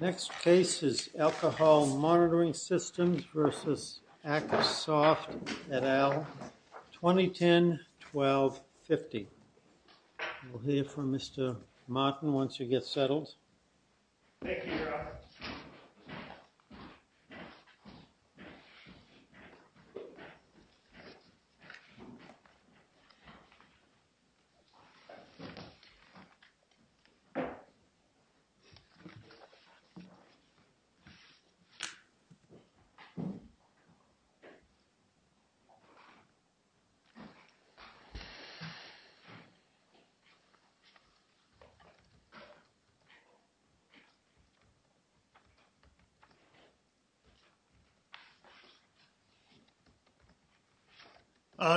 Next case is ALCOHOL MONITORING systems v. ACTSOFT, et al. 2010 1250. We'll hear from Mr. Martin once you get settled.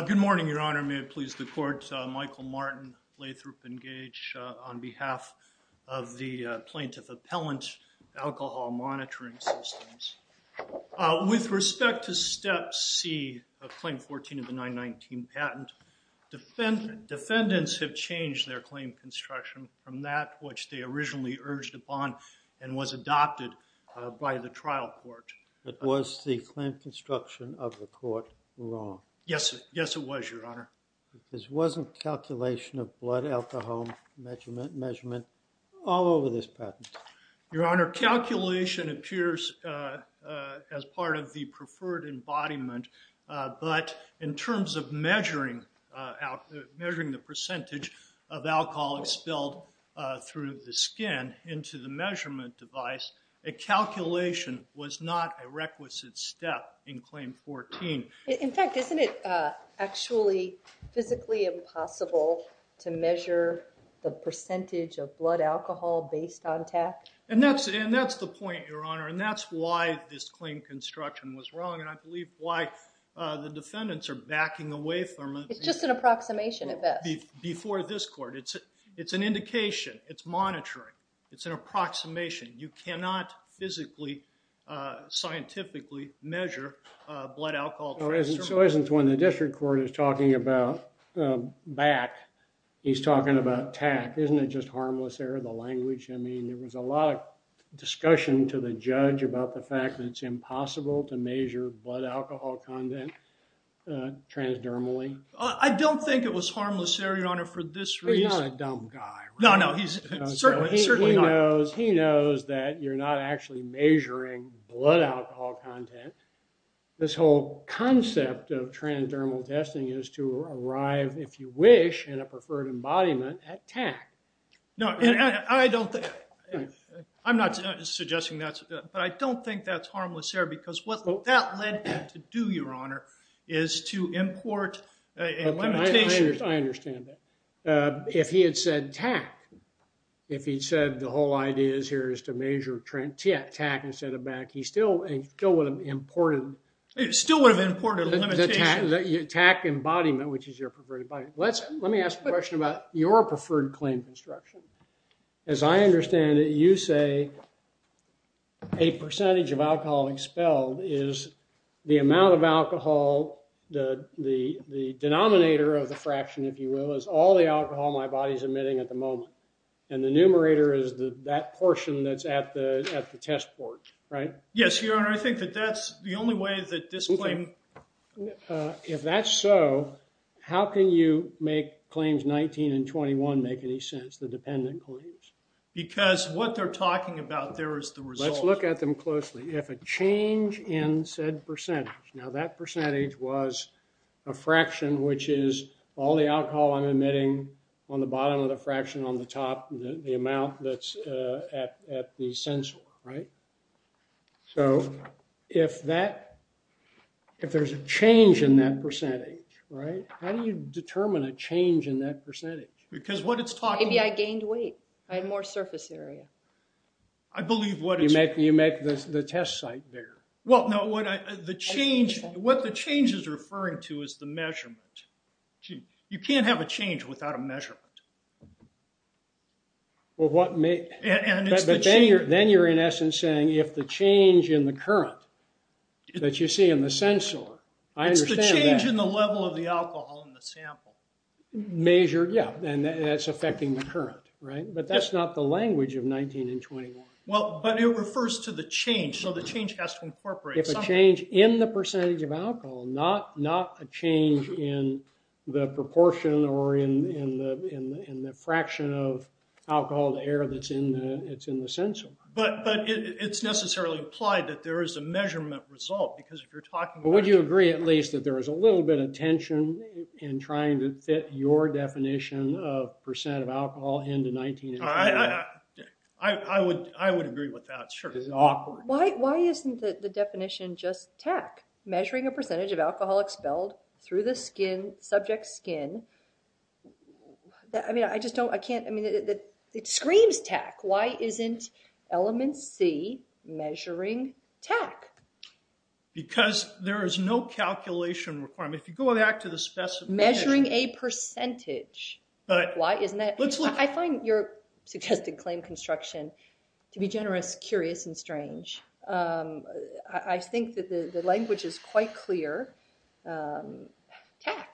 Good morning, Your Honor. May it please the Court, Michael Martin, Lathrop and Gage on behalf of the plaintiff appellant, ALCOHOL MONITORING systems. With respect to Step C of Claim 14 of the 919 patent, defendants have changed their claim construction from that which they originally urged upon and was adopted by the trial court. Was the claim construction of the court wrong? Yes, it was, Your Honor. This wasn't calculation of blood, alcohol measurement all over this patent? Your Honor, calculation appears as part of the preferred embodiment, but in terms of measuring the percentage of alcohol expelled through the skin into the measurement device, a calculation was not a requisite step in Claim 14. In fact, isn't it actually physically impossible to measure the percentage of blood alcohol based on TAC? And that's the point, Your Honor, and that's why this claim construction was wrong, and I believe why the defendants are backing away from it. It's just an approximation at best. Before this court, it's an indication. It's monitoring. It's an approximation. You cannot physically, scientifically measure blood alcohol. So isn't when the district court is talking about BAC, he's talking about TAC. Isn't it just harmless error of the language? I mean, there was a lot of discussion to the judge about the fact that it's impossible to measure blood alcohol content transdermally. I don't think it was harmless error, Your Honor, for this reason. He's not a dumb guy. No, no, he's certainly not. He knows that you're not actually measuring blood alcohol content. This whole concept of transdermal testing is to arrive, if you wish, in a preferred embodiment at TAC. I'm not suggesting that, but I don't think that's harmless error, because what that led him to do, Your Honor, is to import a limitation. I understand that. If he had said TAC, if he'd said the whole idea here is to measure TAC instead of BAC, he still would have imported the limitation. TAC embodiment, which is your preferred embodiment. Let me ask a question about your preferred claim construction. As I understand it, you say a percentage of alcohol expelled is the amount of alcohol, the denominator of the fraction, if you will, is all the alcohol my body's emitting at the moment. And the numerator is that portion that's at the test board, right? Yes, Your Honor. I think that that's the only way that this claim… If that's so, how can you make claims 19 and 21 make any sense, the dependent claims? Because what they're talking about there is the result. Let's look at them closely. If a change in said percentage… Now, that percentage was a fraction, which is all the alcohol I'm emitting on the bottom of the fraction on the top, the amount that's at the sensor, right? So, if there's a change in that percentage, right? How do you determine a change in that percentage? Maybe I gained weight. I had more surface area. I believe what is… You make the test site bigger. Well, no, what the change is referring to is the measurement. You can't have a change without a measurement. Well, what may… But then you're in essence saying if the change in the current that you see in the sensor… I understand that. It's the change in the level of the alcohol in the sample. Measure, yeah, and that's affecting the current, right? But that's not the language of 19 and 21. Well, but it refers to the change. So, the change has to incorporate something. If a change in the percentage of alcohol, not a change in the proportion or in the fraction of alcohol to air that's in the sensor. But it's necessarily implied that there is a measurement result because if you're talking about… Would you agree at least that there is a little bit of tension in trying to fit your definition of percent of alcohol into 19 and 21? I would agree with that, sure. It's awkward. Why isn't the definition just TAC? Measuring a percentage of alcohol expelled through the subject's skin. I mean, I just don't… I can't… It screams TAC. Why isn't element C measuring TAC? Because there is no calculation requirement. If you go back to the… Measuring a percentage. Why isn't that? I find your suggested claim construction to be generous, curious, and strange. I think that the language is quite clear. TAC.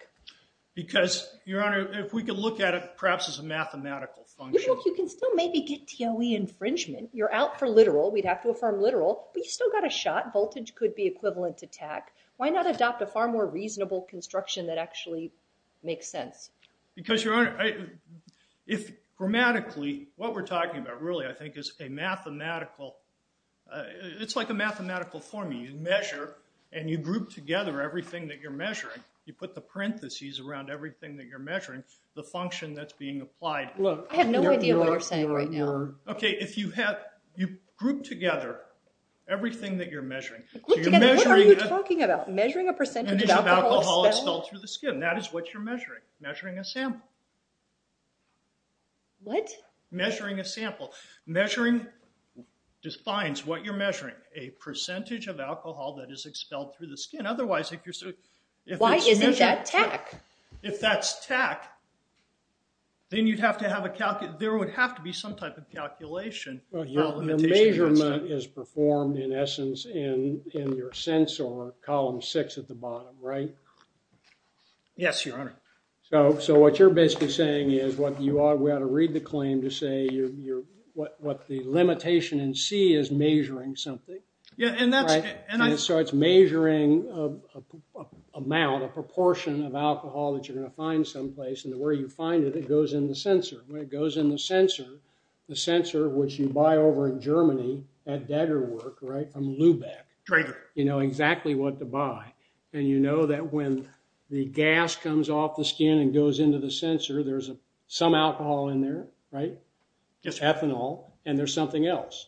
Because, Your Honor, if we could look at it perhaps as a mathematical function. You can still maybe get TOE infringement. You're out for literal. We'd have to affirm literal. But you still got a shot. Voltage could be equivalent to TAC. Why not adopt a far more reasonable construction that actually makes sense? Because, Your Honor, if grammatically what we're talking about really I think is a mathematical… It's like a mathematical formula. You measure and you group together everything that you're measuring. You put the parentheses around everything that you're measuring. The function that's being applied. Look, I have no idea what you're saying right now. Okay, if you have… You group together everything that you're measuring. Group together? What are you talking about? Measuring a percentage of alcohol expelled? Expelled through the skin. That is what you're measuring. Measuring a sample. What? Measuring a sample. Measuring defines what you're measuring. A percentage of alcohol that is expelled through the skin. Otherwise, if you're… Why isn't that TAC? If that's TAC, then you'd have to have a… There would have to be some type of calculation. Your measurement is performed in essence in your sensor column six at the bottom, right? Yes, Your Honor. So, what you're basically saying is what you are… We ought to read the claim to say what the limitation in C is measuring something. Yeah, and that's… So, it's measuring amount, a proportion of alcohol that you're going to find someplace. And where you find it, it goes in the sensor. When it goes in the sensor, the sensor which you buy over in Germany at Dagger Work, right? From Lubeck. Right. You know exactly what to buy. And you know that when the gas comes off the skin and goes into the sensor, there's some alcohol in there, right? Yes, sir. Just ethanol. And there's something else.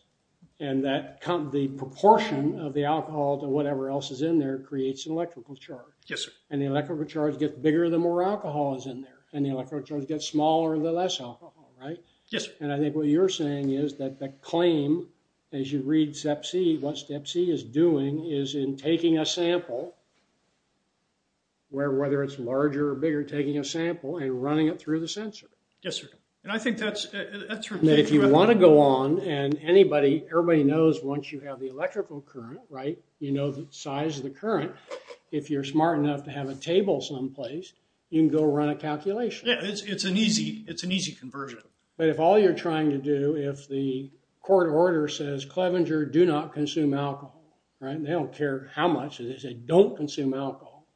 And that… The proportion of the alcohol to whatever else is in there creates an electrical charge. Yes, sir. And the electrical charge gets bigger the more alcohol is in there. And the electrical charge gets smaller the less alcohol, right? Yes, sir. And I think what you're saying is that the claim, as you read Step C, what Step C is doing is in taking a sample, whether it's larger or bigger, taking a sample and running it through the sensor. Yes, sir. And I think that's… And if you want to go on and anybody… Everybody knows once you have the electrical current, right? You know the size of the current. If you're smart enough to have a table someplace, you can go run a calculation. Yes. It's an easy conversion. But if all you're trying to do, if the court order says, Clevenger, do not consume alcohol, right? They don't care how much. They say, don't consume alcohol.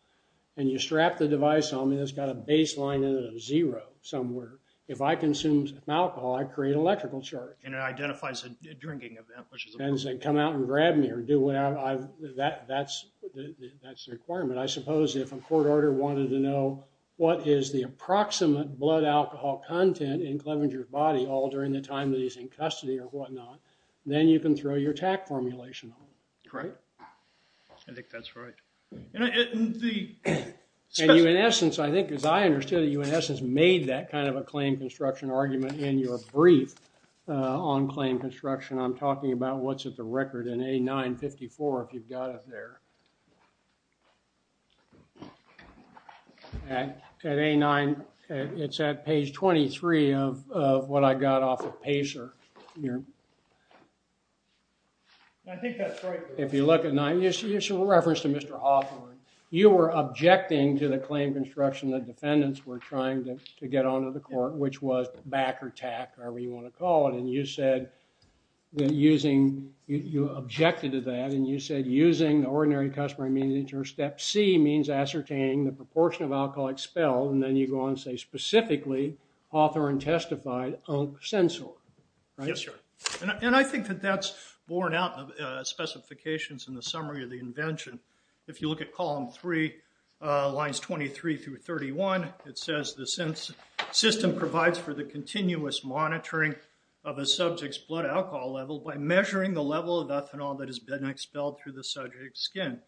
And you strap the device on me that's got a baseline of zero somewhere. If I consume alcohol, I create an electrical charge. And it identifies a drinking event, which is important. And it says, come out and grab me or do whatever. That's the requirement. I suppose if a court order wanted to know what is the approximate blood alcohol content in Clevenger's body all during the time that he's in custody or whatnot, then you can throw your TAC formulation on him, right? I think that's right. And you, in essence, I think as I understood it, you in essence made that kind of a claim construction argument in your brief on claim construction. I'm talking about what's at the record in A954, if you've got it there. At A9, it's at page 23 of what I got off of Pacer here. I think that's right. If you look at 9, it's a reference to Mr. Hoffman. You were objecting to the claim construction that defendants were trying to get onto the court, which was back or TAC, however you want to call it. And you said that using, you objected to that. And you said using the ordinary customary means, or step C, means ascertaining the proportion of alcohol expelled. And then you go on and say, specifically, author and testified on sensor. Yes, sir. And I think that that's borne out of specifications in the summary of the invention. If you look at column three, lines 23 through 31, it says the system provides for the continuous monitoring of a subject's blood alcohol level by measuring the level of ethanol that has been expelled through the subject's skin.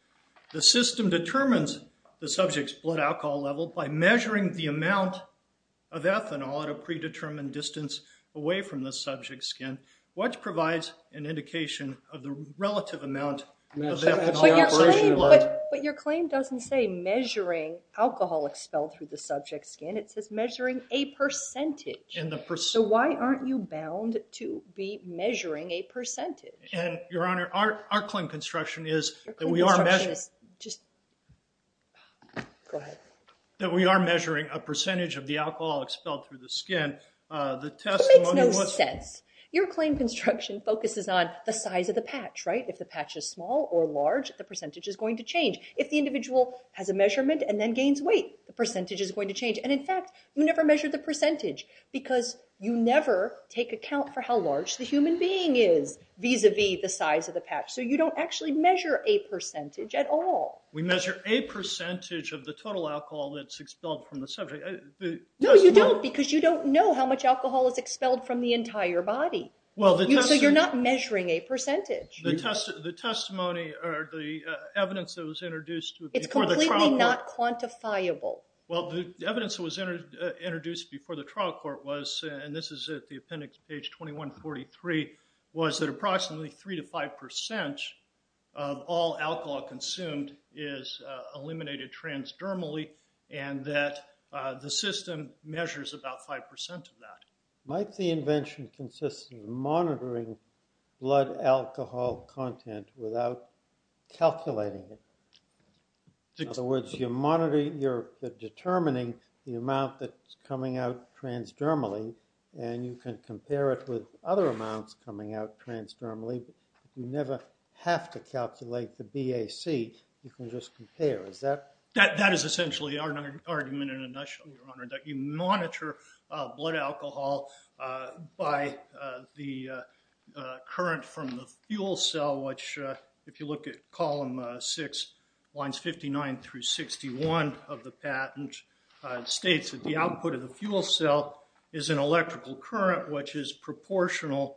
The system determines the subject's blood alcohol level by measuring the amount of ethanol at a predetermined distance away from the subject's skin, which provides an indication of the relative amount of ethanol. But your claim doesn't say measuring alcohol expelled through the subject's skin. It says measuring a percentage. So why aren't you bound to be measuring a percentage? Your Honor, our claim construction is that we are measuring a percentage of the alcohol expelled through the skin. It makes no sense. Your claim construction focuses on the size of the patch, right? If the patch is small or large, the percentage is going to change. If the individual has a measurement and then gains weight, the percentage is going to change. And in fact, you never measure the percentage because you never take account for how large the human being is vis-a-vis the size of the patch. So you don't actually measure a percentage at all. We measure a percentage of the total alcohol that's expelled from the subject. No, you don't because you don't know how much alcohol is expelled from the entire body. So you're not measuring a percentage. The testimony or the evidence that was introduced before the trial court. It's completely not quantifiable. Well, the evidence that was introduced before the trial court was, and this is at the appendix page 2143, was that approximately 3% to 5% of all alcohol consumed is eliminated transdermally, and that the system measures about 5% of that. Might the invention consist of monitoring blood alcohol content without calculating it? In other words, you're determining the amount that's coming out transdermally, and you can compare it with other amounts coming out transdermally, but you never have to calculate the BAC. You can just compare. That is essentially our argument in a nutshell, Your Honor, that you monitor blood alcohol by the current from the fuel cell, which if you look at column six, lines 59 through 61 of the patent, states that the output of the fuel cell is an electrical current which is proportional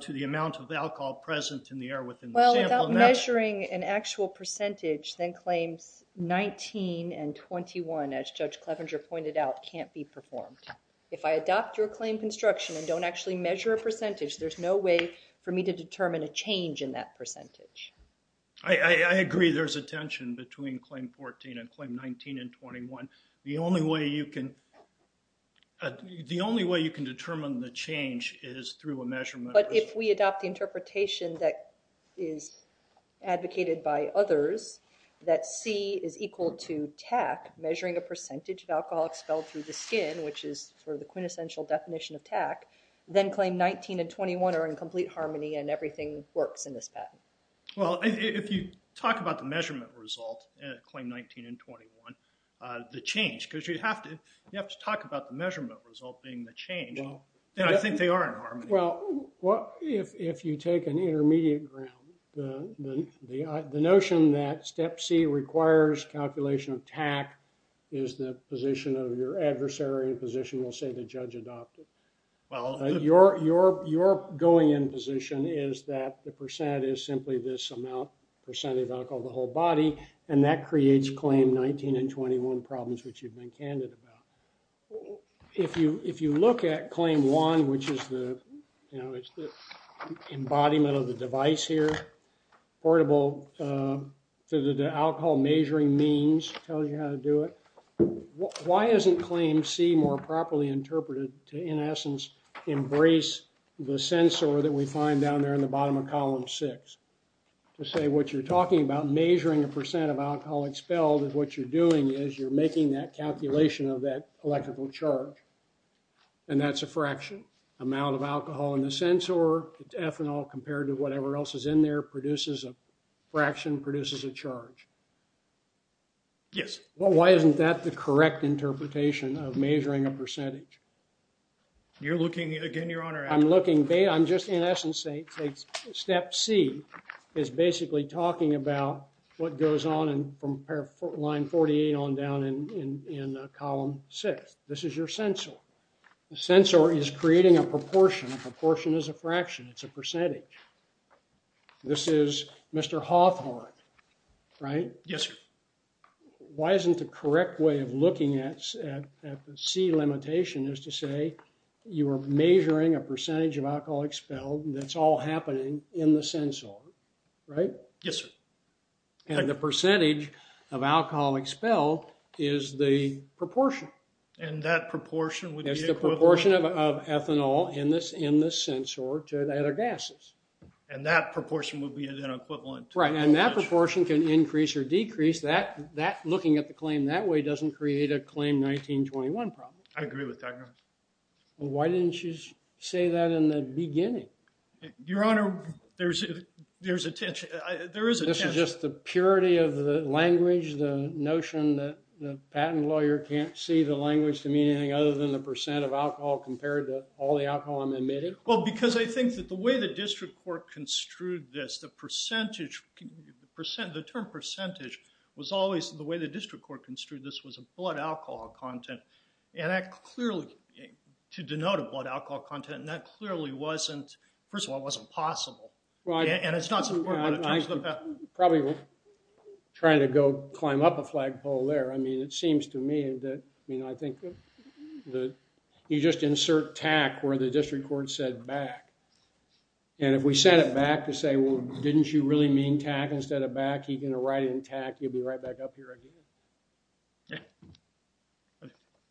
to the amount of alcohol present in the air within the sample. Well, without measuring an actual percentage, then claims 19 and 21, as Judge Clevenger pointed out, can't be performed. If I adopt your claim construction and don't actually measure a percentage, there's no way for me to determine a change in that percentage. I agree there's a tension between claim 14 and claim 19 and 21. The only way you can determine the change is through a measurement. But if we adopt the interpretation that is advocated by others, that C is equal to TAC, measuring a percentage of alcohol expelled through the skin, which is sort of the quintessential definition of TAC, then claim 19 and 21 are in complete harmony and everything works in this patent. Well, if you talk about the measurement result, claim 19 and 21, the change, because you have to talk about the measurement result being the change, and I think they are in harmony. Well, if you take an intermediate ground, the notion that step C requires calculation of TAC is the position of your adversary, a position you'll say the judge adopted. Your going in position is that the percent is simply this amount, percent of alcohol, the whole body, and that creates claim 19 and 21 problems, which you've been candid about. If you look at claim 1, which is the, you know, portable, the alcohol measuring means tell you how to do it. Why isn't claim C more properly interpreted to, in essence, embrace the sensor that we find down there in the bottom of column 6? To say what you're talking about, measuring a percent of alcohol expelled is what you're doing is you're making that calculation of that electrical charge, and that's a fraction. Amount of alcohol in the sensor, it's ethanol compared to whatever else is in there, produces a fraction, produces a charge. Yes. Well, why isn't that the correct interpretation of measuring a percentage? You're looking, again, Your Honor. I'm looking, I'm just, in essence, step C is basically talking about what goes on from line 48 on down in column 6. This is your sensor. The sensor is creating a proportion. A proportion is a fraction. It's a percentage. This is Mr. Hawthorne, right? Yes, sir. Why isn't the correct way of looking at the C limitation is to say you are measuring a percentage of alcohol expelled that's all happening in the sensor, right? Yes, sir. And the percentage of alcohol expelled is the proportion. And that proportion would be equivalent. The proportion of ethanol in the sensor to the other gases. And that proportion would be then equivalent. Right. And that proportion can increase or decrease. Looking at the claim that way doesn't create a claim 1921 problem. I agree with that, Your Honor. Why didn't you say that in the beginning? Your Honor, there's a tension. There is a tension. This is just the purity of the language, the notion that the patent lawyer can't see the language Does that seem to me anything other than the percent of alcohol compared to all the alcohol I'm admitted? Well, because I think that the way the district court construed this, the percentage, the term percentage, was always the way the district court construed this was a blood alcohol content. And that clearly, to denote a blood alcohol content, that clearly wasn't, first of all, it wasn't possible. And it's not supported by the terms of the patent. I'm probably trying to go climb up a flagpole there. I mean, it seems to me that, I mean, I think that you just insert TAC where the district court said back. And if we said it back to say, well, didn't you really mean TAC instead of back, he's going to write it in TAC. He'll be right back up here again.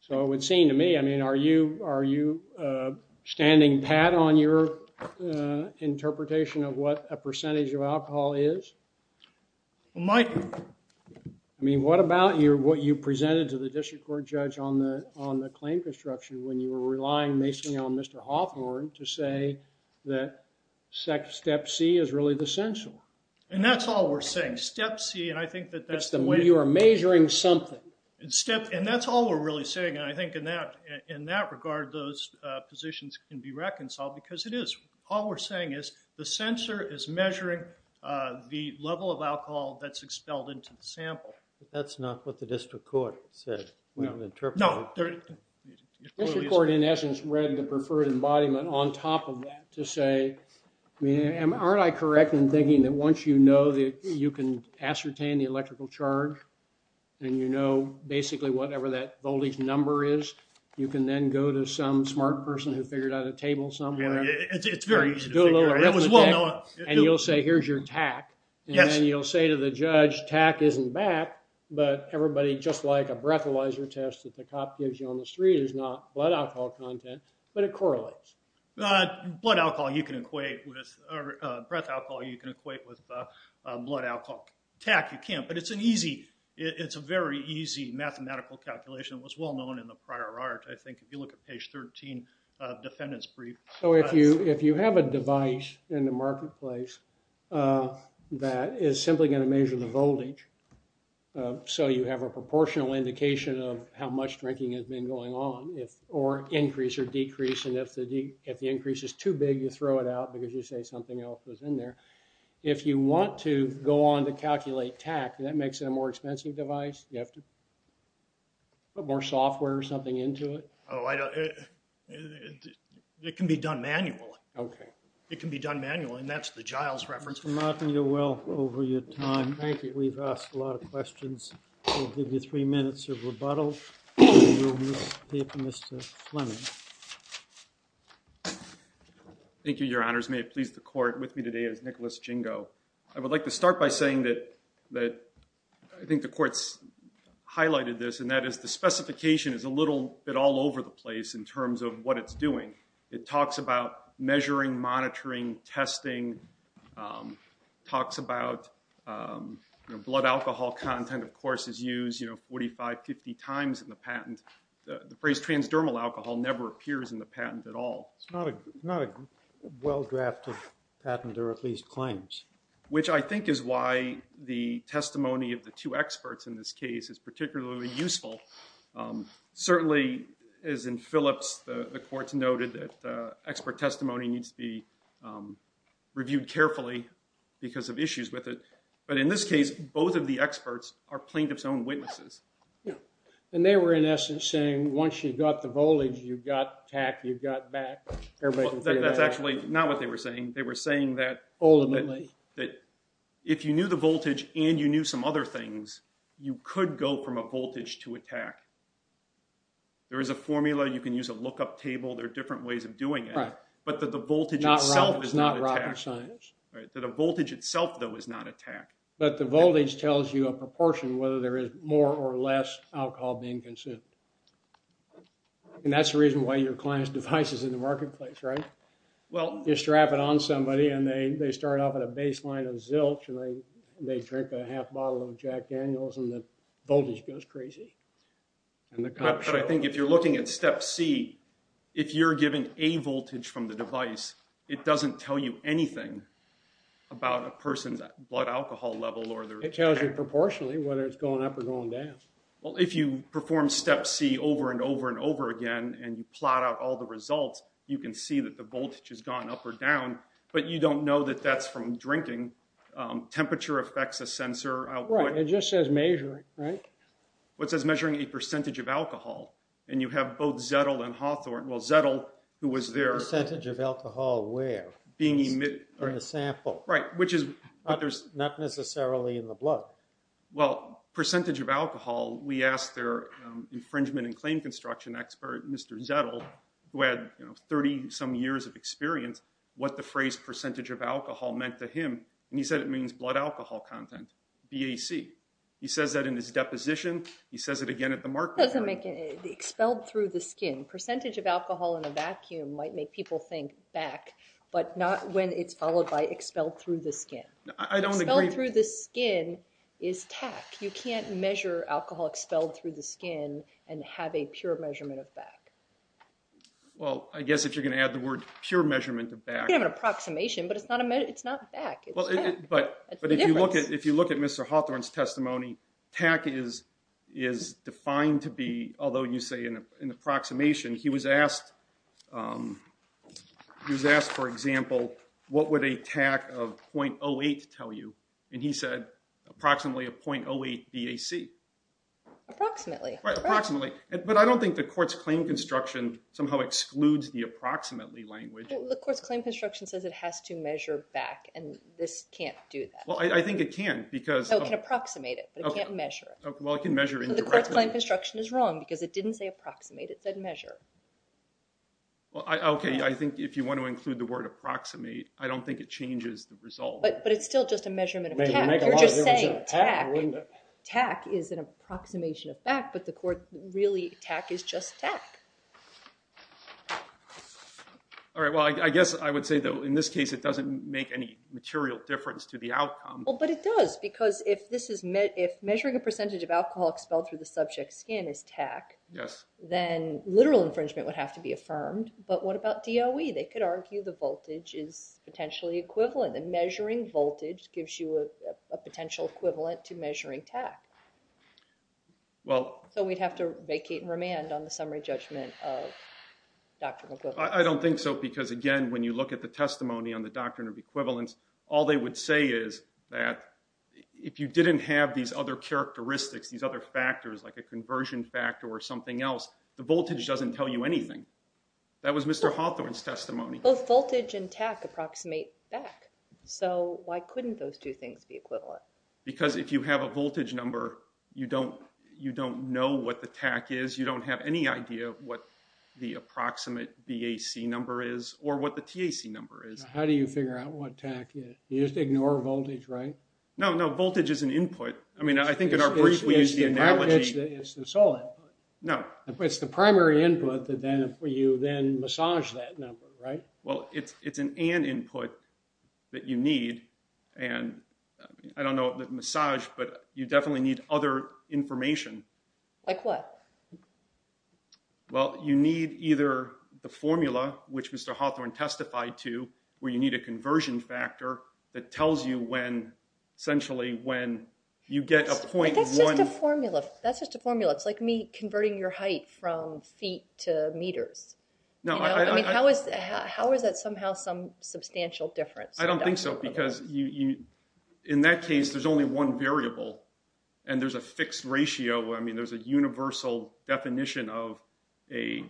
So it would seem to me, I mean, are you, are you standing pat on your interpretation of what a percentage of alcohol is? Well, my I mean, what about your, what you presented to the district court judge on the, on the claim construction when you were relying basically on Mr. Hawthorne to say that SEC step C is really the central. And that's all we're saying. Step C. And I think that that's the way you are measuring something and step. And that's all we're really saying. And I think in that, in that regard, those positions can be reconciled because it is all we're saying is the level of alcohol that's expelled into the sample. That's not what the district court said. No, the district court in essence read the preferred embodiment on top of that to say, I mean, aren't I correct in thinking that once you know that you can ascertain the electrical charge and you know, basically whatever that voltage number is, you can then go to some smart person who figured out a table somewhere. It's very easy. And you'll say, here's your TAC. And then you'll say to the judge, TAC isn't back, but everybody just like a breathalyzer test that the cop gives you on the street is not blood alcohol content, but it correlates. Blood alcohol, you can equate with breath alcohol. You can equate with blood alcohol. TAC you can't, but it's an easy, it's a very easy mathematical calculation. It was well known in the prior art. I think if you look at page 13, defendant's brief. So if you, if you have a device in the marketplace, that is simply going to measure the voltage. So you have a proportional indication of how much drinking has been going on if, or increase or decrease. And if the D if the increase is too big, you throw it out because you say something else was in there. If you want to go on to calculate TAC, that makes it a more expensive device. You have to put more software or something into it. Oh, I don't, it can be done manually. Okay. It can be done manually. And that's the Giles reference. Martin, you're well over your time. Thank you. We've asked a lot of questions. We'll give you three minutes of rebuttal. Thank you, your honors. May it please the court with me today is Nicholas Jingo. I would like to start by saying that, that I think the courts highlighted this and that is the specification is a little bit all over the place in terms of what it's doing. It talks about measuring, monitoring, testing, talks about blood alcohol content of course is used, you know, 45, 50 times in the patent. The phrase transdermal alcohol never appears in the patent at all. It's not a well drafted patent or at least claims. Which I think is why the testimony of the two experts in this case is particularly useful. Certainly as in Phillips, the courts noted that the expert testimony needs to be reviewed carefully because of issues with it. But in this case, both of the experts are plaintiff's own witnesses. Yeah. And they were in essence saying, once you got the voltage, you got tack, you got back. That's actually not what they were saying. They were saying that if you knew the voltage and you knew some other things, you could go from a voltage to attack. There is a formula. You can use a lookup table. There are different ways of doing it, but that the voltage itself is not. Right. That a voltage itself though is not attack. But the voltage tells you a proportion, whether there is more or less alcohol being consumed. And that's the reason why your client's device is in the marketplace, right? Well, you strap it on somebody and they, they start off at a baseline of zilch and they, they drink a half bottle of Jack Daniels and the voltage goes crazy. But I think if you're looking at step C, if you're given a voltage from the device, it doesn't tell you anything about a person's blood alcohol level. It tells you proportionally whether it's going up or going down. Well, if you perform step C over and over and over again, and you plot out all the results, you can see that the voltage has gone up or down, but you don't know that that's from drinking. Temperature affects a sensor output. It just says measuring, right? What says measuring a percentage of alcohol and you have both Zettel and Hawthorne. Well, Zettel who was there. Percentage of alcohol where? Being emitted. In the sample. Right. Which is. Not necessarily in the blood. Well, percentage of alcohol. We asked their infringement and claim construction expert, Mr. Zettel, who had 30 some years of experience, what the phrase percentage of alcohol meant to him. And he said, it means blood alcohol content, BAC. He says that in his deposition. He says it again at the market. Expelled through the skin. Percentage of alcohol in a vacuum might make people think back, but not when it's followed by expelled through the skin. I don't agree. Through the skin is tack. You can't measure alcohol expelled through the skin and have a pure measurement of back. Well, I guess if you're going to add the word pure measurement of back. I have an approximation, but it's not a minute. But, but if you look at, if you look at Mr. Hawthorne's testimony, tack is, is defined to be, although you say in an approximation, he was asked, um, he was asked, for example, what would a tack of 0.08 tell you? And he said approximately a 0.08 BAC. Approximately. Approximately. But I don't think the court's claim construction somehow excludes the approximately language. The court's claim construction says it has to measure back. And this can't do that. Well, I think it can, because I can approximate it, but I can't measure it. Well, I can measure it. The court's claim construction is wrong because it didn't say approximate. It said measure. Well, I, okay. I think if you want to include the word approximate, I don't think it changes the result, but it's still just a measurement of. Tack is an approximation of back, but the court really tack is just tack. Well, I guess I would say though, in this case, it doesn't make any material difference to the outcome. Well, but it does because if this is met, if measuring a percentage of alcohol expelled through the subject skin is tack, yes, then literal infringement would have to be affirmed. But what about DOE? They could argue the voltage is potentially equivalent. And measuring voltage gives you a potential equivalent to measuring tack. Well, so we'd have to vacate and remand on the summary judgment of Dr. I don't think so. Because again, when you look at the testimony on the doctrine of equivalence, all they would say is that if you didn't have these other characteristics, these other factors, like a conversion factor or something else, the voltage doesn't tell you anything. That was Mr. Hawthorne's testimony. Both voltage and tack approximate back. So why couldn't those two things be equivalent? Because if you have a voltage number, you don't, you don't know what the tack is. You don't have any idea what the approximate BAC number is or what the TAC number is. How do you figure out what tack is? You just ignore voltage, right? No, no. Voltage is an input. I mean, I think in our brief, we used the analogy. No, it's the primary input that then you then massage that number, right? Well, it's, it's an, and input that you need. And I don't know that massage, but you definitely need other information. Like what? Well, you need either the formula, which Mr. Hawthorne testified to where you need a conversion factor that tells you when essentially, when you get a point. That's just a formula. That's just a formula. It's like me converting your height from feet to meters. No, I mean, how is, how is that somehow some substantial difference? I don't think so. Because you, you, in that case, there's only one variable and there's a fixed ratio of, I mean, there's a universal definition of a,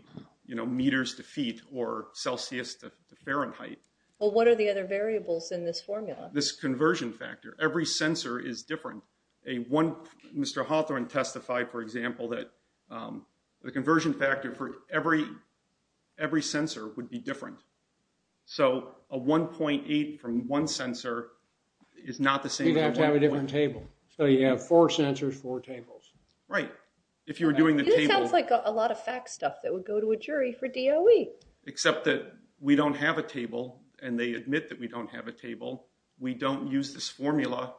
you know, meters to feet or Celsius to Fahrenheit. Well, what are the other variables in this formula? This conversion factor, every sensor is different. A one, Mr. Hawthorne testified, for example, that the conversion factor for every, every sensor would be different. So a 1.8 from one sensor is not the same. You'd have to have a different table. So you have four sensors, four tables. Right. If you were doing the table. This sounds like a lot of fact stuff that would go to a jury for DOE. Except that we don't have a table and they admit that we don't have a table. We don't use this formula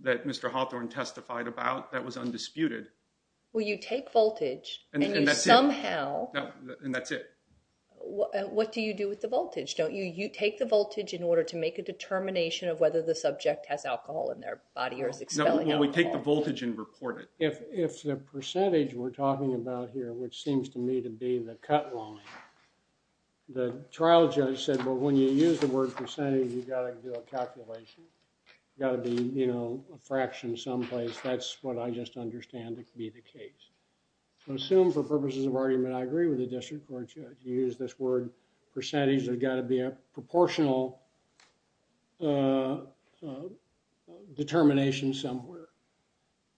that Mr. Hawthorne testified about. That was undisputed. Well, you take voltage and somehow. And that's it. What do you do with the voltage? Don't you, you take the voltage in order to make a determination of whether the subject has alcohol in their body or is expelling alcohol. We take the voltage and report it. If, if the percentage we're talking about here, which seems to me to be the cut line. The trial judge said, well, when you use the word percentage, you've got to do a calculation. You've got to be, you know, a fraction someplace. That's what I just understand to be the case. So assume for purposes of argument, I agree with the district court judge. You use this word percentage. There's got to be a proportional. Determination somewhere.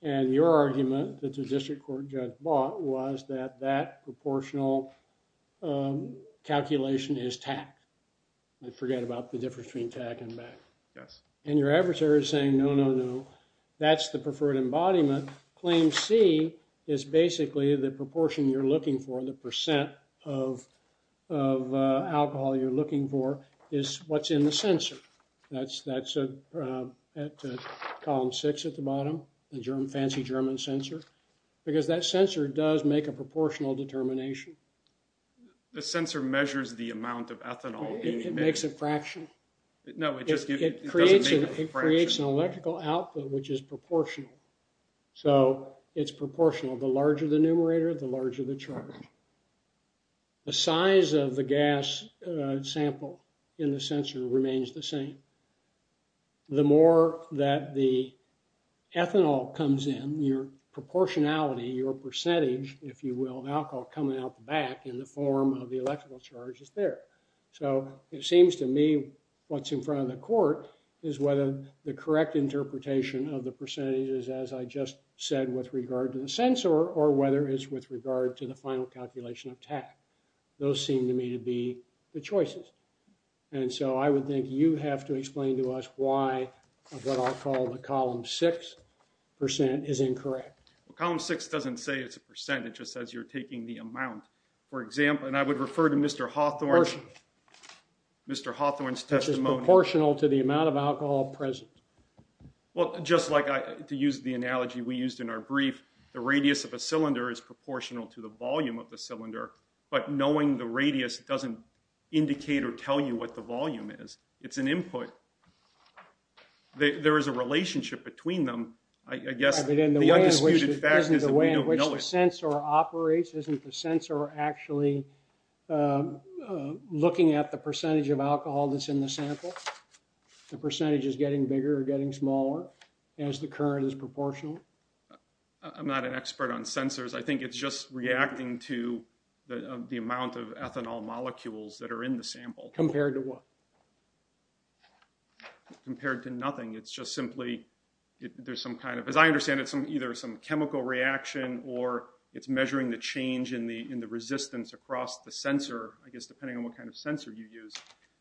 And your argument that the district court judge bought was that that proportional. Calculation is tacked. I forget about the difference between tag and back. Yes. And your adversary is saying, no, no, no. That's the preferred embodiment. Claim C is basically the proportion you're looking for. The percent of. Of alcohol you're looking for is. What's in the sensor. That's that's a. At column six at the bottom, the German fancy German sensor. Because that sensor does make a proportional determination. The sensor measures the amount of ethanol. It makes a fraction. No, it just creates an, it creates an electrical output, which is proportional. So it's proportional. The larger the numerator, the larger the chart. The size of the gas sample. In the sensor remains the same. The more that the. Ethanol comes in your proportionality, your percentage, if you will, now call coming out the back in the form of the electrical charge is there. So it seems to me. What's in front of the court is whether the correct interpretation of the percentage is, as I just said, with regard to the sensor or whether it's with regard to the final calculation of tack. Those seem to me to be the choices. And so I would think you have to explain to us why of what I'll call the column. 6. Percent is incorrect. Well, column six doesn't say it's a percentage. It just says you're taking the amount. For example, and I would refer to Mr. Hawthorne. Mr. Hawthorne's testimony is proportional to the amount of alcohol present. Well, just like to use the analogy we used in our brief, the radius of a cylinder is proportional to the volume of the cylinder, but knowing the radius doesn't indicate or tell you what the volume is. It's an input. There is a relationship between them. I guess the undisputed fact is that we don't know it. The way in which the sensor operates, isn't the sensor actually looking at the percentage of alcohol that's in the sample? The percentage is getting bigger or getting smaller as the current is proportional. I'm not an expert on sensors. I think it's just reacting to the, the amount of ethanol molecules that are in the sample compared to what compared to nothing. It's just simply, there's some kind of, as I understand it, some either some chemical reaction or it's measuring the change in the, in the resistance across the sensor, I guess, depending on what kind of sensor you use.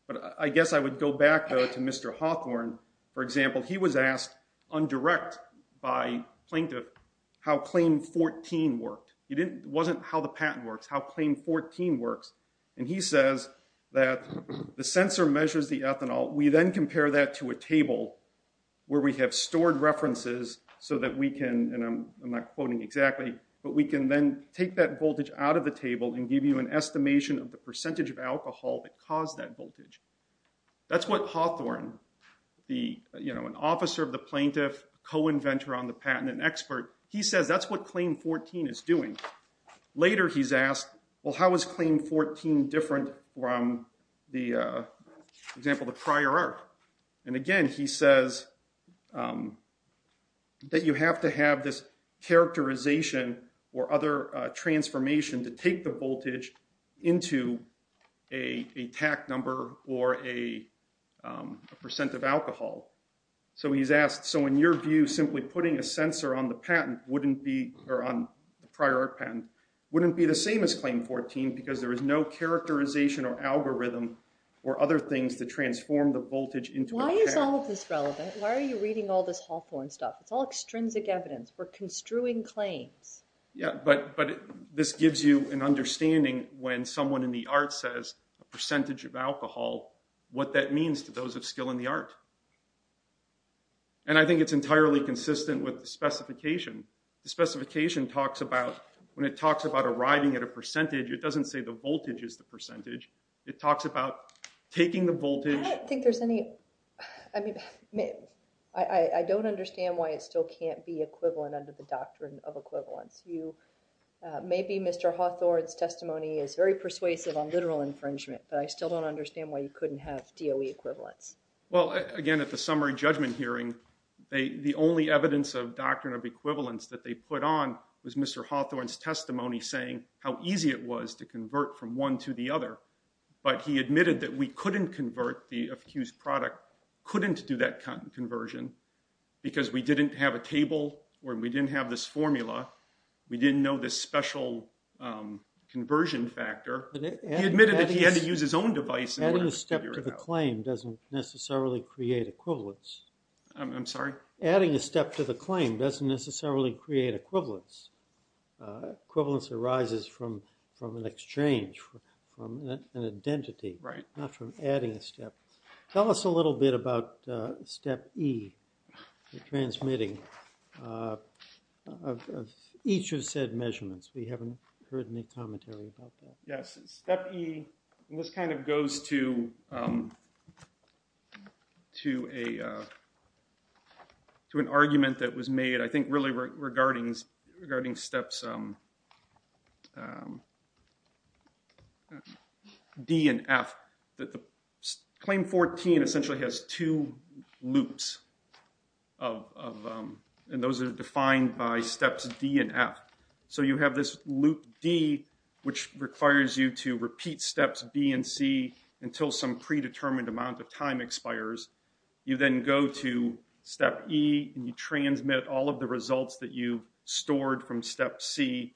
But I guess I would go back to Mr. Hawthorne. For example, he was asked on direct by plaintiff, how claim 14 worked. He didn't, wasn't how the patent works, how claim 14 works. And he says that the sensor measures the ethanol. We then compare that to a table where we have stored references so that we can, and I'm not quoting exactly, but we can then take that voltage out of the table and give you an estimation of the percentage of alcohol that caused that voltage. That's what Hawthorne, you know, an officer of the plaintiff co-inventor on the patent and expert. He says, that's what claim 14 is doing later. He's asked, well, how is claim 14 different from the example of the prior art? And again, he says that you have to have this characterization or other transformation to take the voltage into a, a tack number or a percent of alcohol. So he's asked. So in your view, simply putting a sensor on the patent wouldn't be or on the prior art patent wouldn't be the same as claim 14, because there is no characterization or algorithm or other things to transform the voltage into. Why is all of this relevant? Why are you reading all this Hawthorne stuff? It's all extrinsic evidence. We're construing claims. Yeah. But, but this gives you an understanding when someone in the art says a percentage of alcohol, what that means to those of skill in the art. And I think it's entirely consistent with the specification. The specification talks about when it talks about arriving at a percentage, it doesn't say the voltage is the percentage. It talks about taking the voltage. I think there's any, I mean, I don't understand why it still can't be equivalent under the doctrine of equivalence. You maybe Mr. Hawthorne's testimony is very persuasive on literal infringement, but I still don't understand why you couldn't have DOE equivalence. Well, again, at the summary judgment hearing, they, the only evidence of doctrine of equivalence that they put on was Mr. Hawthorne's testimony saying how easy it was to convert from one to the other. But he admitted that we couldn't convert the accused product. Couldn't do that kind of conversion because we didn't have a table where we didn't have this formula. We didn't know this special conversion factor. He admitted that he had to use his own device. Adding a step to the claim doesn't necessarily create equivalence. I'm sorry? Adding a step to the claim doesn't necessarily create equivalence. Equivalence arises from, from an exchange, from an identity, not from adding a step. Tell us a little bit about step E, transmitting each of said measurements. We haven't heard any commentary about that. Yes. Step E, and this kind of goes to, um, to a, uh, to an argument that was made, I think really regarding, regarding steps, um, um, D and F that the claim 14 essentially has two loops of, um, and those are defined by steps D and F. So you have this loop D, which requires you to repeat steps B and C until some predetermined amount of time expires. You then go to step E and you transmit all of the results that you stored from step C.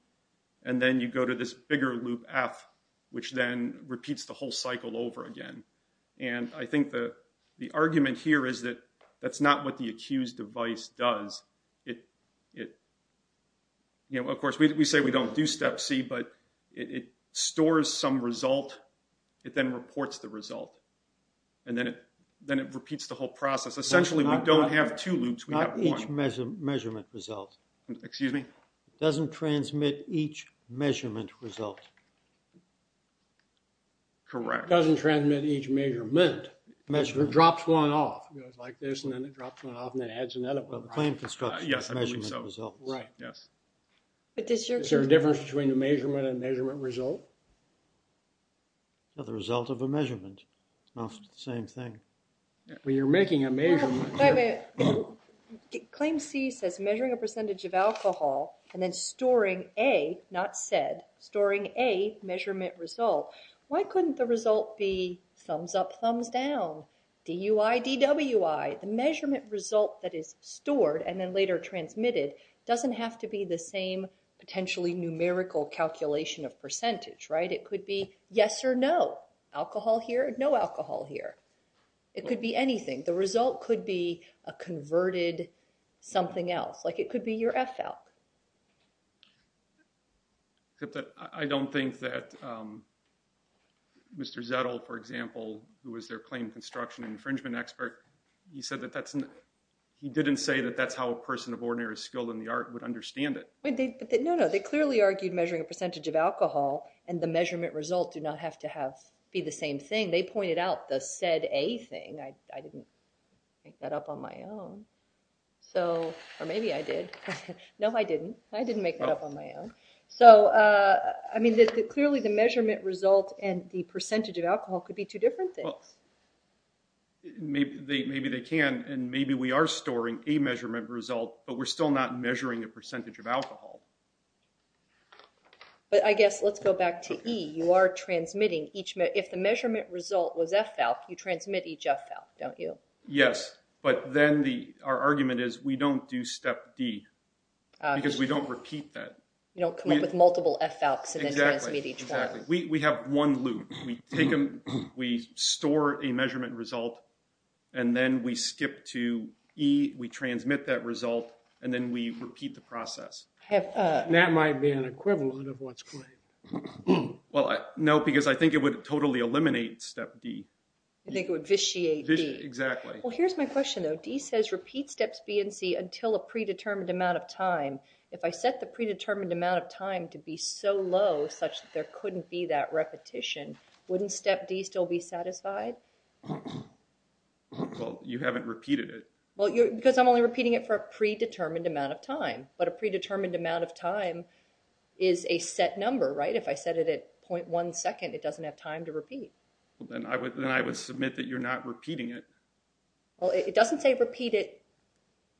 And then you go to this bigger loop F, which then repeats the whole cycle over again. And I think the, the argument here is that that's not what the accused device does. It, it, you know, of course we, we say we don't do step C, but it stores some result. It then reports the result. And then it, then it repeats the whole process. Essentially we don't have two loops. We have one measurement result. Excuse me? It doesn't transmit each measurement result. Correct. Doesn't transmit each measurement. Measurement drops one off, like this, and then it drops one off and it adds another one. Yes, I believe so. Right. Yes. But does your, Is there a difference between the measurement and measurement result? No, the result of a measurement. No, it's the same thing. Well, you're making a measurement. Wait, wait. Claim C says measuring a percentage of alcohol and then storing A, not said, storing A measurement result. Why couldn't the result be thumbs up, thumbs down? DUI, DWI, the measurement result that is stored and then later transmitted, doesn't have to be the same potentially numerical calculation of percentage, right? It could be yes or no. Alcohol here, no alcohol here. It could be anything. The result could be a converted something else. Like it could be your F out. I don't think that Mr. Zettel, for example, who was their claim construction infringement expert, he said that that's, he didn't say that that's how a person of ordinary skill in the art would understand it. No, no. They clearly argued measuring a percentage of alcohol and the measurement result do not have to have be the same thing. They pointed out the said A thing. I didn't make that up on my own. So, or maybe I did. No, I didn't. I didn't make it up on my own. So, I mean, clearly the measurement result and the percentage of alcohol could be two different things. Maybe they, maybe they can, and maybe we are storing a measurement result, but we're still not measuring a percentage of alcohol. But I guess let's go back to E. You are transmitting each minute. If the measurement result was F out, you transmit each F out. Don't you? Yes. But then the, our argument is we don't do step D. Because we don't repeat that. You don't come up with multiple F out. Exactly. We have one loop. We take them. We store a measurement result. And then we skip to E. We transmit that result. And then we repeat the process. That might be an equivalent of what's claimed. Well, no, because I think it would totally eliminate step D. I think it would vitiate D. Exactly. Well, here's my question though. D says repeat steps B and C until a predetermined amount of time. If I set the predetermined amount of time to be so low, such that there couldn't be that repetition, wouldn't step D still be satisfied? Well, you haven't repeated it. Well, because I'm only repeating it for a predetermined amount of time. But a predetermined amount of time is a set number, right? If I set it at .1 second, it doesn't have time to repeat. Well, then I would submit that you're not repeating it. Well, it doesn't say repeat it.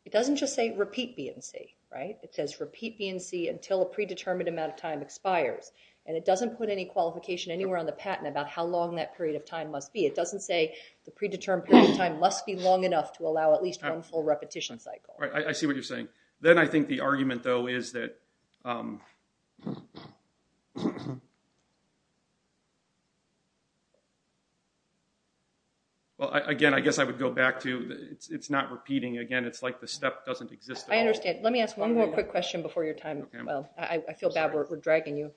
It doesn't just say repeat B and C, right? It says repeat B and C until a predetermined amount of time expires. And it doesn't put any qualification anywhere on the patent about how long that period of time must be. It doesn't say the predetermined period of time must be long enough to allow at least one full repetition cycle. Right. I see what you're saying. Then I think the argument though is that... Well, again, I guess I would go back to it's not repeating. Again, it's like the step doesn't exist at all. I understand. Let me ask one more quick question before your time. Well, I feel bad we're dragging you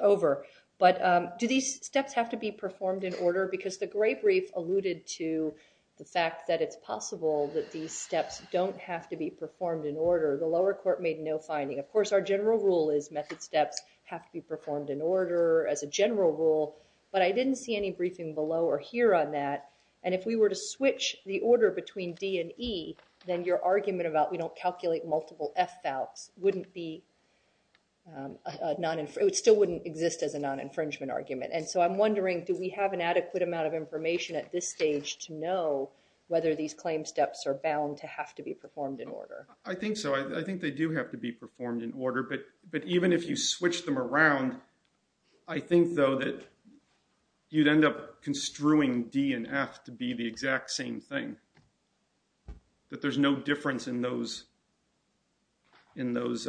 over, but do these steps have to be performed in order? Because the great brief alluded to the fact that it's possible that these steps don't have to be performed in order. The lower court made no finding. Of course, our general rule is method steps have to be performed in order as a general rule, but I didn't see any briefing below or here on that. And if we were to switch the order between D and E, then your argument about we don't calculate multiple F valves wouldn't be a non... It still wouldn't exist as a non-infringement argument. And so I'm wondering, do we have an adequate amount of information at this stage to know whether these claims steps are bound to have to be performed in order? I think so. I think they do have to be performed in order, but even if you switch them around, I think though that you'd end up construing D and F to be the exact same thing. That there's no difference in those... In those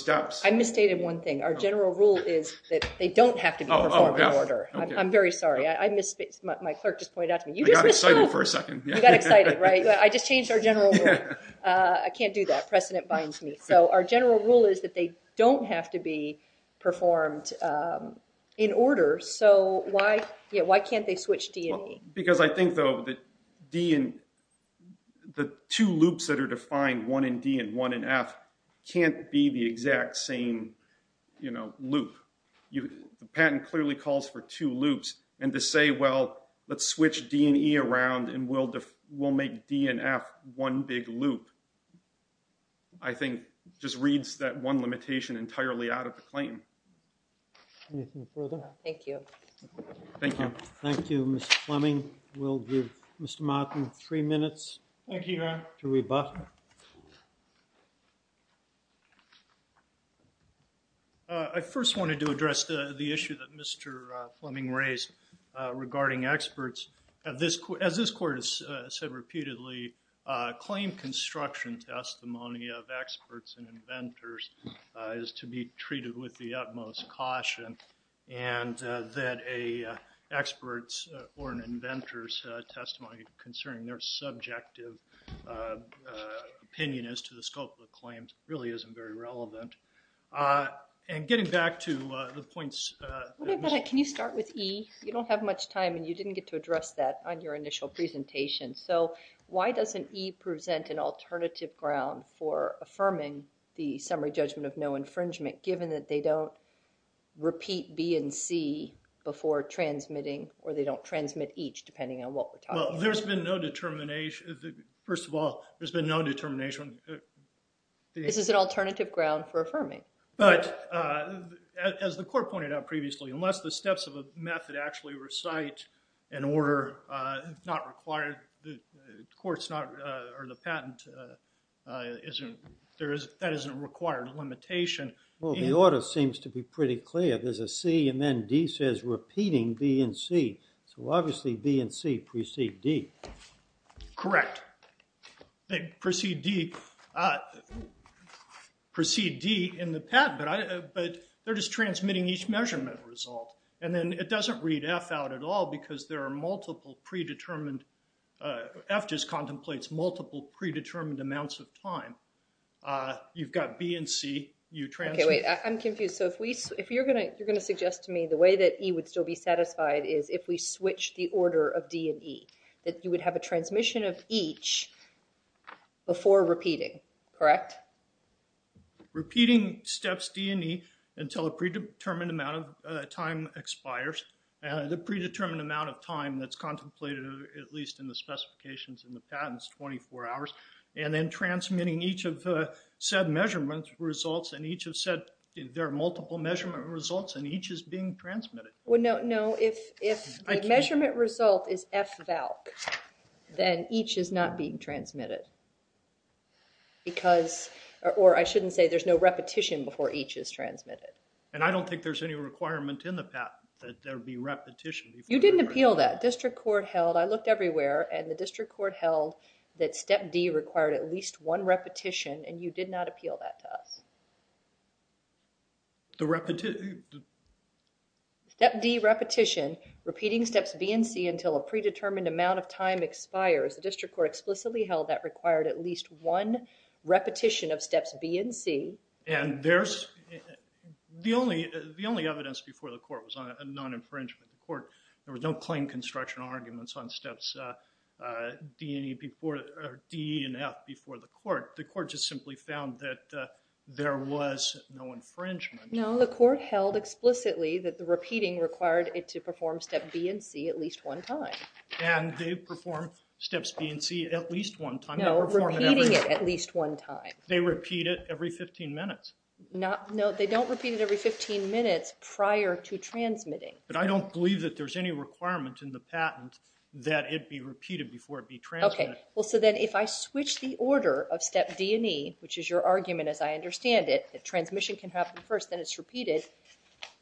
steps. I misstated one thing. Our general rule is that they don't have to be performed in order. I'm very sorry. I mis... My clerk just pointed out to me, you just missed out. I got excited for a second. You got excited, right? I just changed our general rule. I can't do that. Precedent binds me. So our general rule is that they don't have to be performed in order. So why can't they switch D and E? Because I think though that D and... The two loops that are defined, one in D and one in F can't be the exact same, you know, loop. The patent clearly calls for two loops and to say, well, let's switch D and E around and we'll make D and F one big loop. I think just reads that one limitation entirely out of the claim. Anything further? Thank you. Thank you. Thank you, Mr. Fleming. We'll give Mr. Martin three minutes. Thank you. To rebut. I first wanted to address the issue that Mr. Fleming raised regarding experts. As this court has said repeatedly, claim construction testimony of experts and inventors is to be treated with the utmost caution and that a expert's or an inventor's testimony concerning their subjective opinion as to the scope of the claims really isn't very relevant. And getting back to the points... Can you start with E? You don't have much time and you didn't get to address that on your initial presentation. So why doesn't E present an alternative ground for affirming the claim that they don't repeat B and C before transmitting or they don't transmit each, depending on what we're talking about? Well, there's been no determination. First of all, there's been no determination. This is an alternative ground for affirming. But as the court pointed out previously, unless the steps of a method actually recite an order not required, the court's not, or the patent isn't, that isn't a required limitation. Well, the order seems to be pretty clear. There's a C and then D says repeating B and C. So obviously B and C precede D. Correct. They precede D in the patent, but they're just transmitting each measurement result. And then it doesn't read F out at all because there are multiple predetermined... F just contemplates multiple predetermined amounts of time. You've got B and C. Okay, wait. I'm confused. So if you're going to suggest to me the way that E would still be satisfied is if we switch the order of D and E, that you would have a transmission of each before repeating. Correct? Repeating steps D and E until a predetermined amount of time expires. The predetermined amount of time that's contemplated, at least in the specifications in the patent, is 24 hours. And then transmitting each of the said measurement results and each of said... There are multiple measurement results and each is being transmitted. Well, no. If the measurement result is FVALC, then each is not being transmitted. Because... Or I shouldn't say there's no repetition before each is transmitted. And I don't think there's any requirement in the patent that there be repetition. You didn't appeal that. District court held... D and E required at least one repetition and you did not appeal that to us. The repetition... Step D repetition, repeating steps B and C until a predetermined amount of time expires. The district court explicitly held that required at least one repetition of steps B and C. And there's... The only evidence before the court was on a non-infringement. The court, there was no plain construction arguments on steps D and E and F before the court. The court just simply found that there was no infringement. No, the court held explicitly that the repeating required it to perform step B and C at least one time. And they perform steps B and C at least one time. No, repeating it at least one time. They repeat it every 15 minutes. No, they don't repeat it every 15 minutes prior to transmitting. But I don't believe that there's any requirement in the patent that it be Well, so then if I switch the order of step D and E, which is your argument as I understand it, that transmission can happen first, then it's repeated,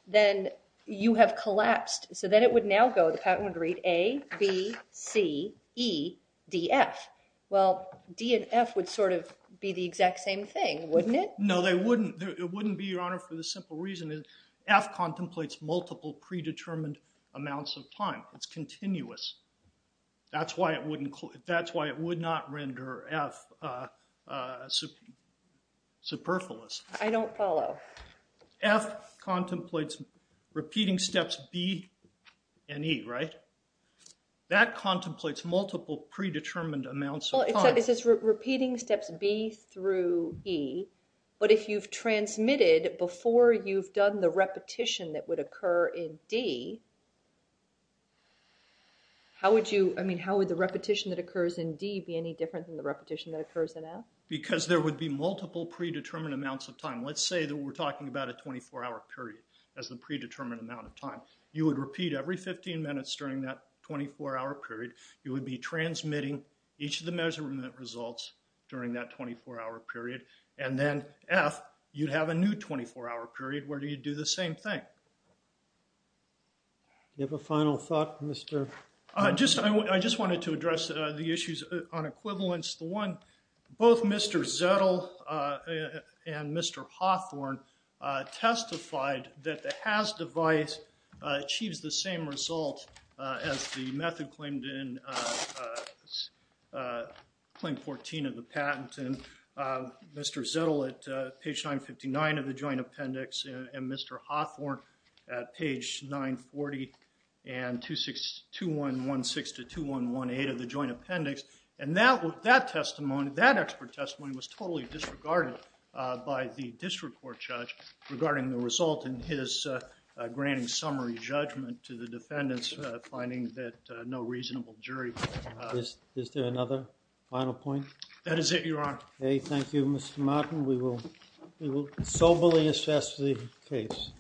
then you have collapsed. So then it would now go, the patent would read A, B, C, E, D, F. Well, D and F would sort of be the exact same thing, wouldn't it? No, they wouldn't. It wouldn't be, Your Honor, for the simple reason that F contemplates multiple predetermined amounts of time. It's continuous. That's why it would not render F superfluous. I don't follow. F contemplates repeating steps B and E, right? That contemplates multiple predetermined amounts of time. Well, it says repeating steps B through E. But if you've transmitted before you've done the repetition that would occur in D, how would you, I mean, how would the repetition that occurs in D be any different than the repetition that occurs in F? Because there would be multiple predetermined amounts of time. Let's say that we're talking about a 24-hour period as the predetermined amount of time. You would repeat every 15 minutes during that 24-hour period. You would be transmitting each of the measurement results during that 24-hour period. And then F, you'd have a new 24-hour period where you'd do the same thing. Do you have a final thought, Mr.? I just wanted to address the issues on equivalence. The one, both Mr. Zettel and Mr. Hawthorne testified that the HAZ device achieves the same result as the method claimed in Claim 14 of the patent. And Mr. Zettel at page 959 of the joint appendix and Mr. Hawthorne at page 940 and 2116 to 2118 of the joint appendix. And that testimony, that expert testimony was totally disregarded by the district court judge regarding the result in his granting summary judgment to the defendants finding that no reasonable jury... Is there another final point? That is it, Your Honor. Okay. Thank you, Mr. Martin. We will soberly assess the case.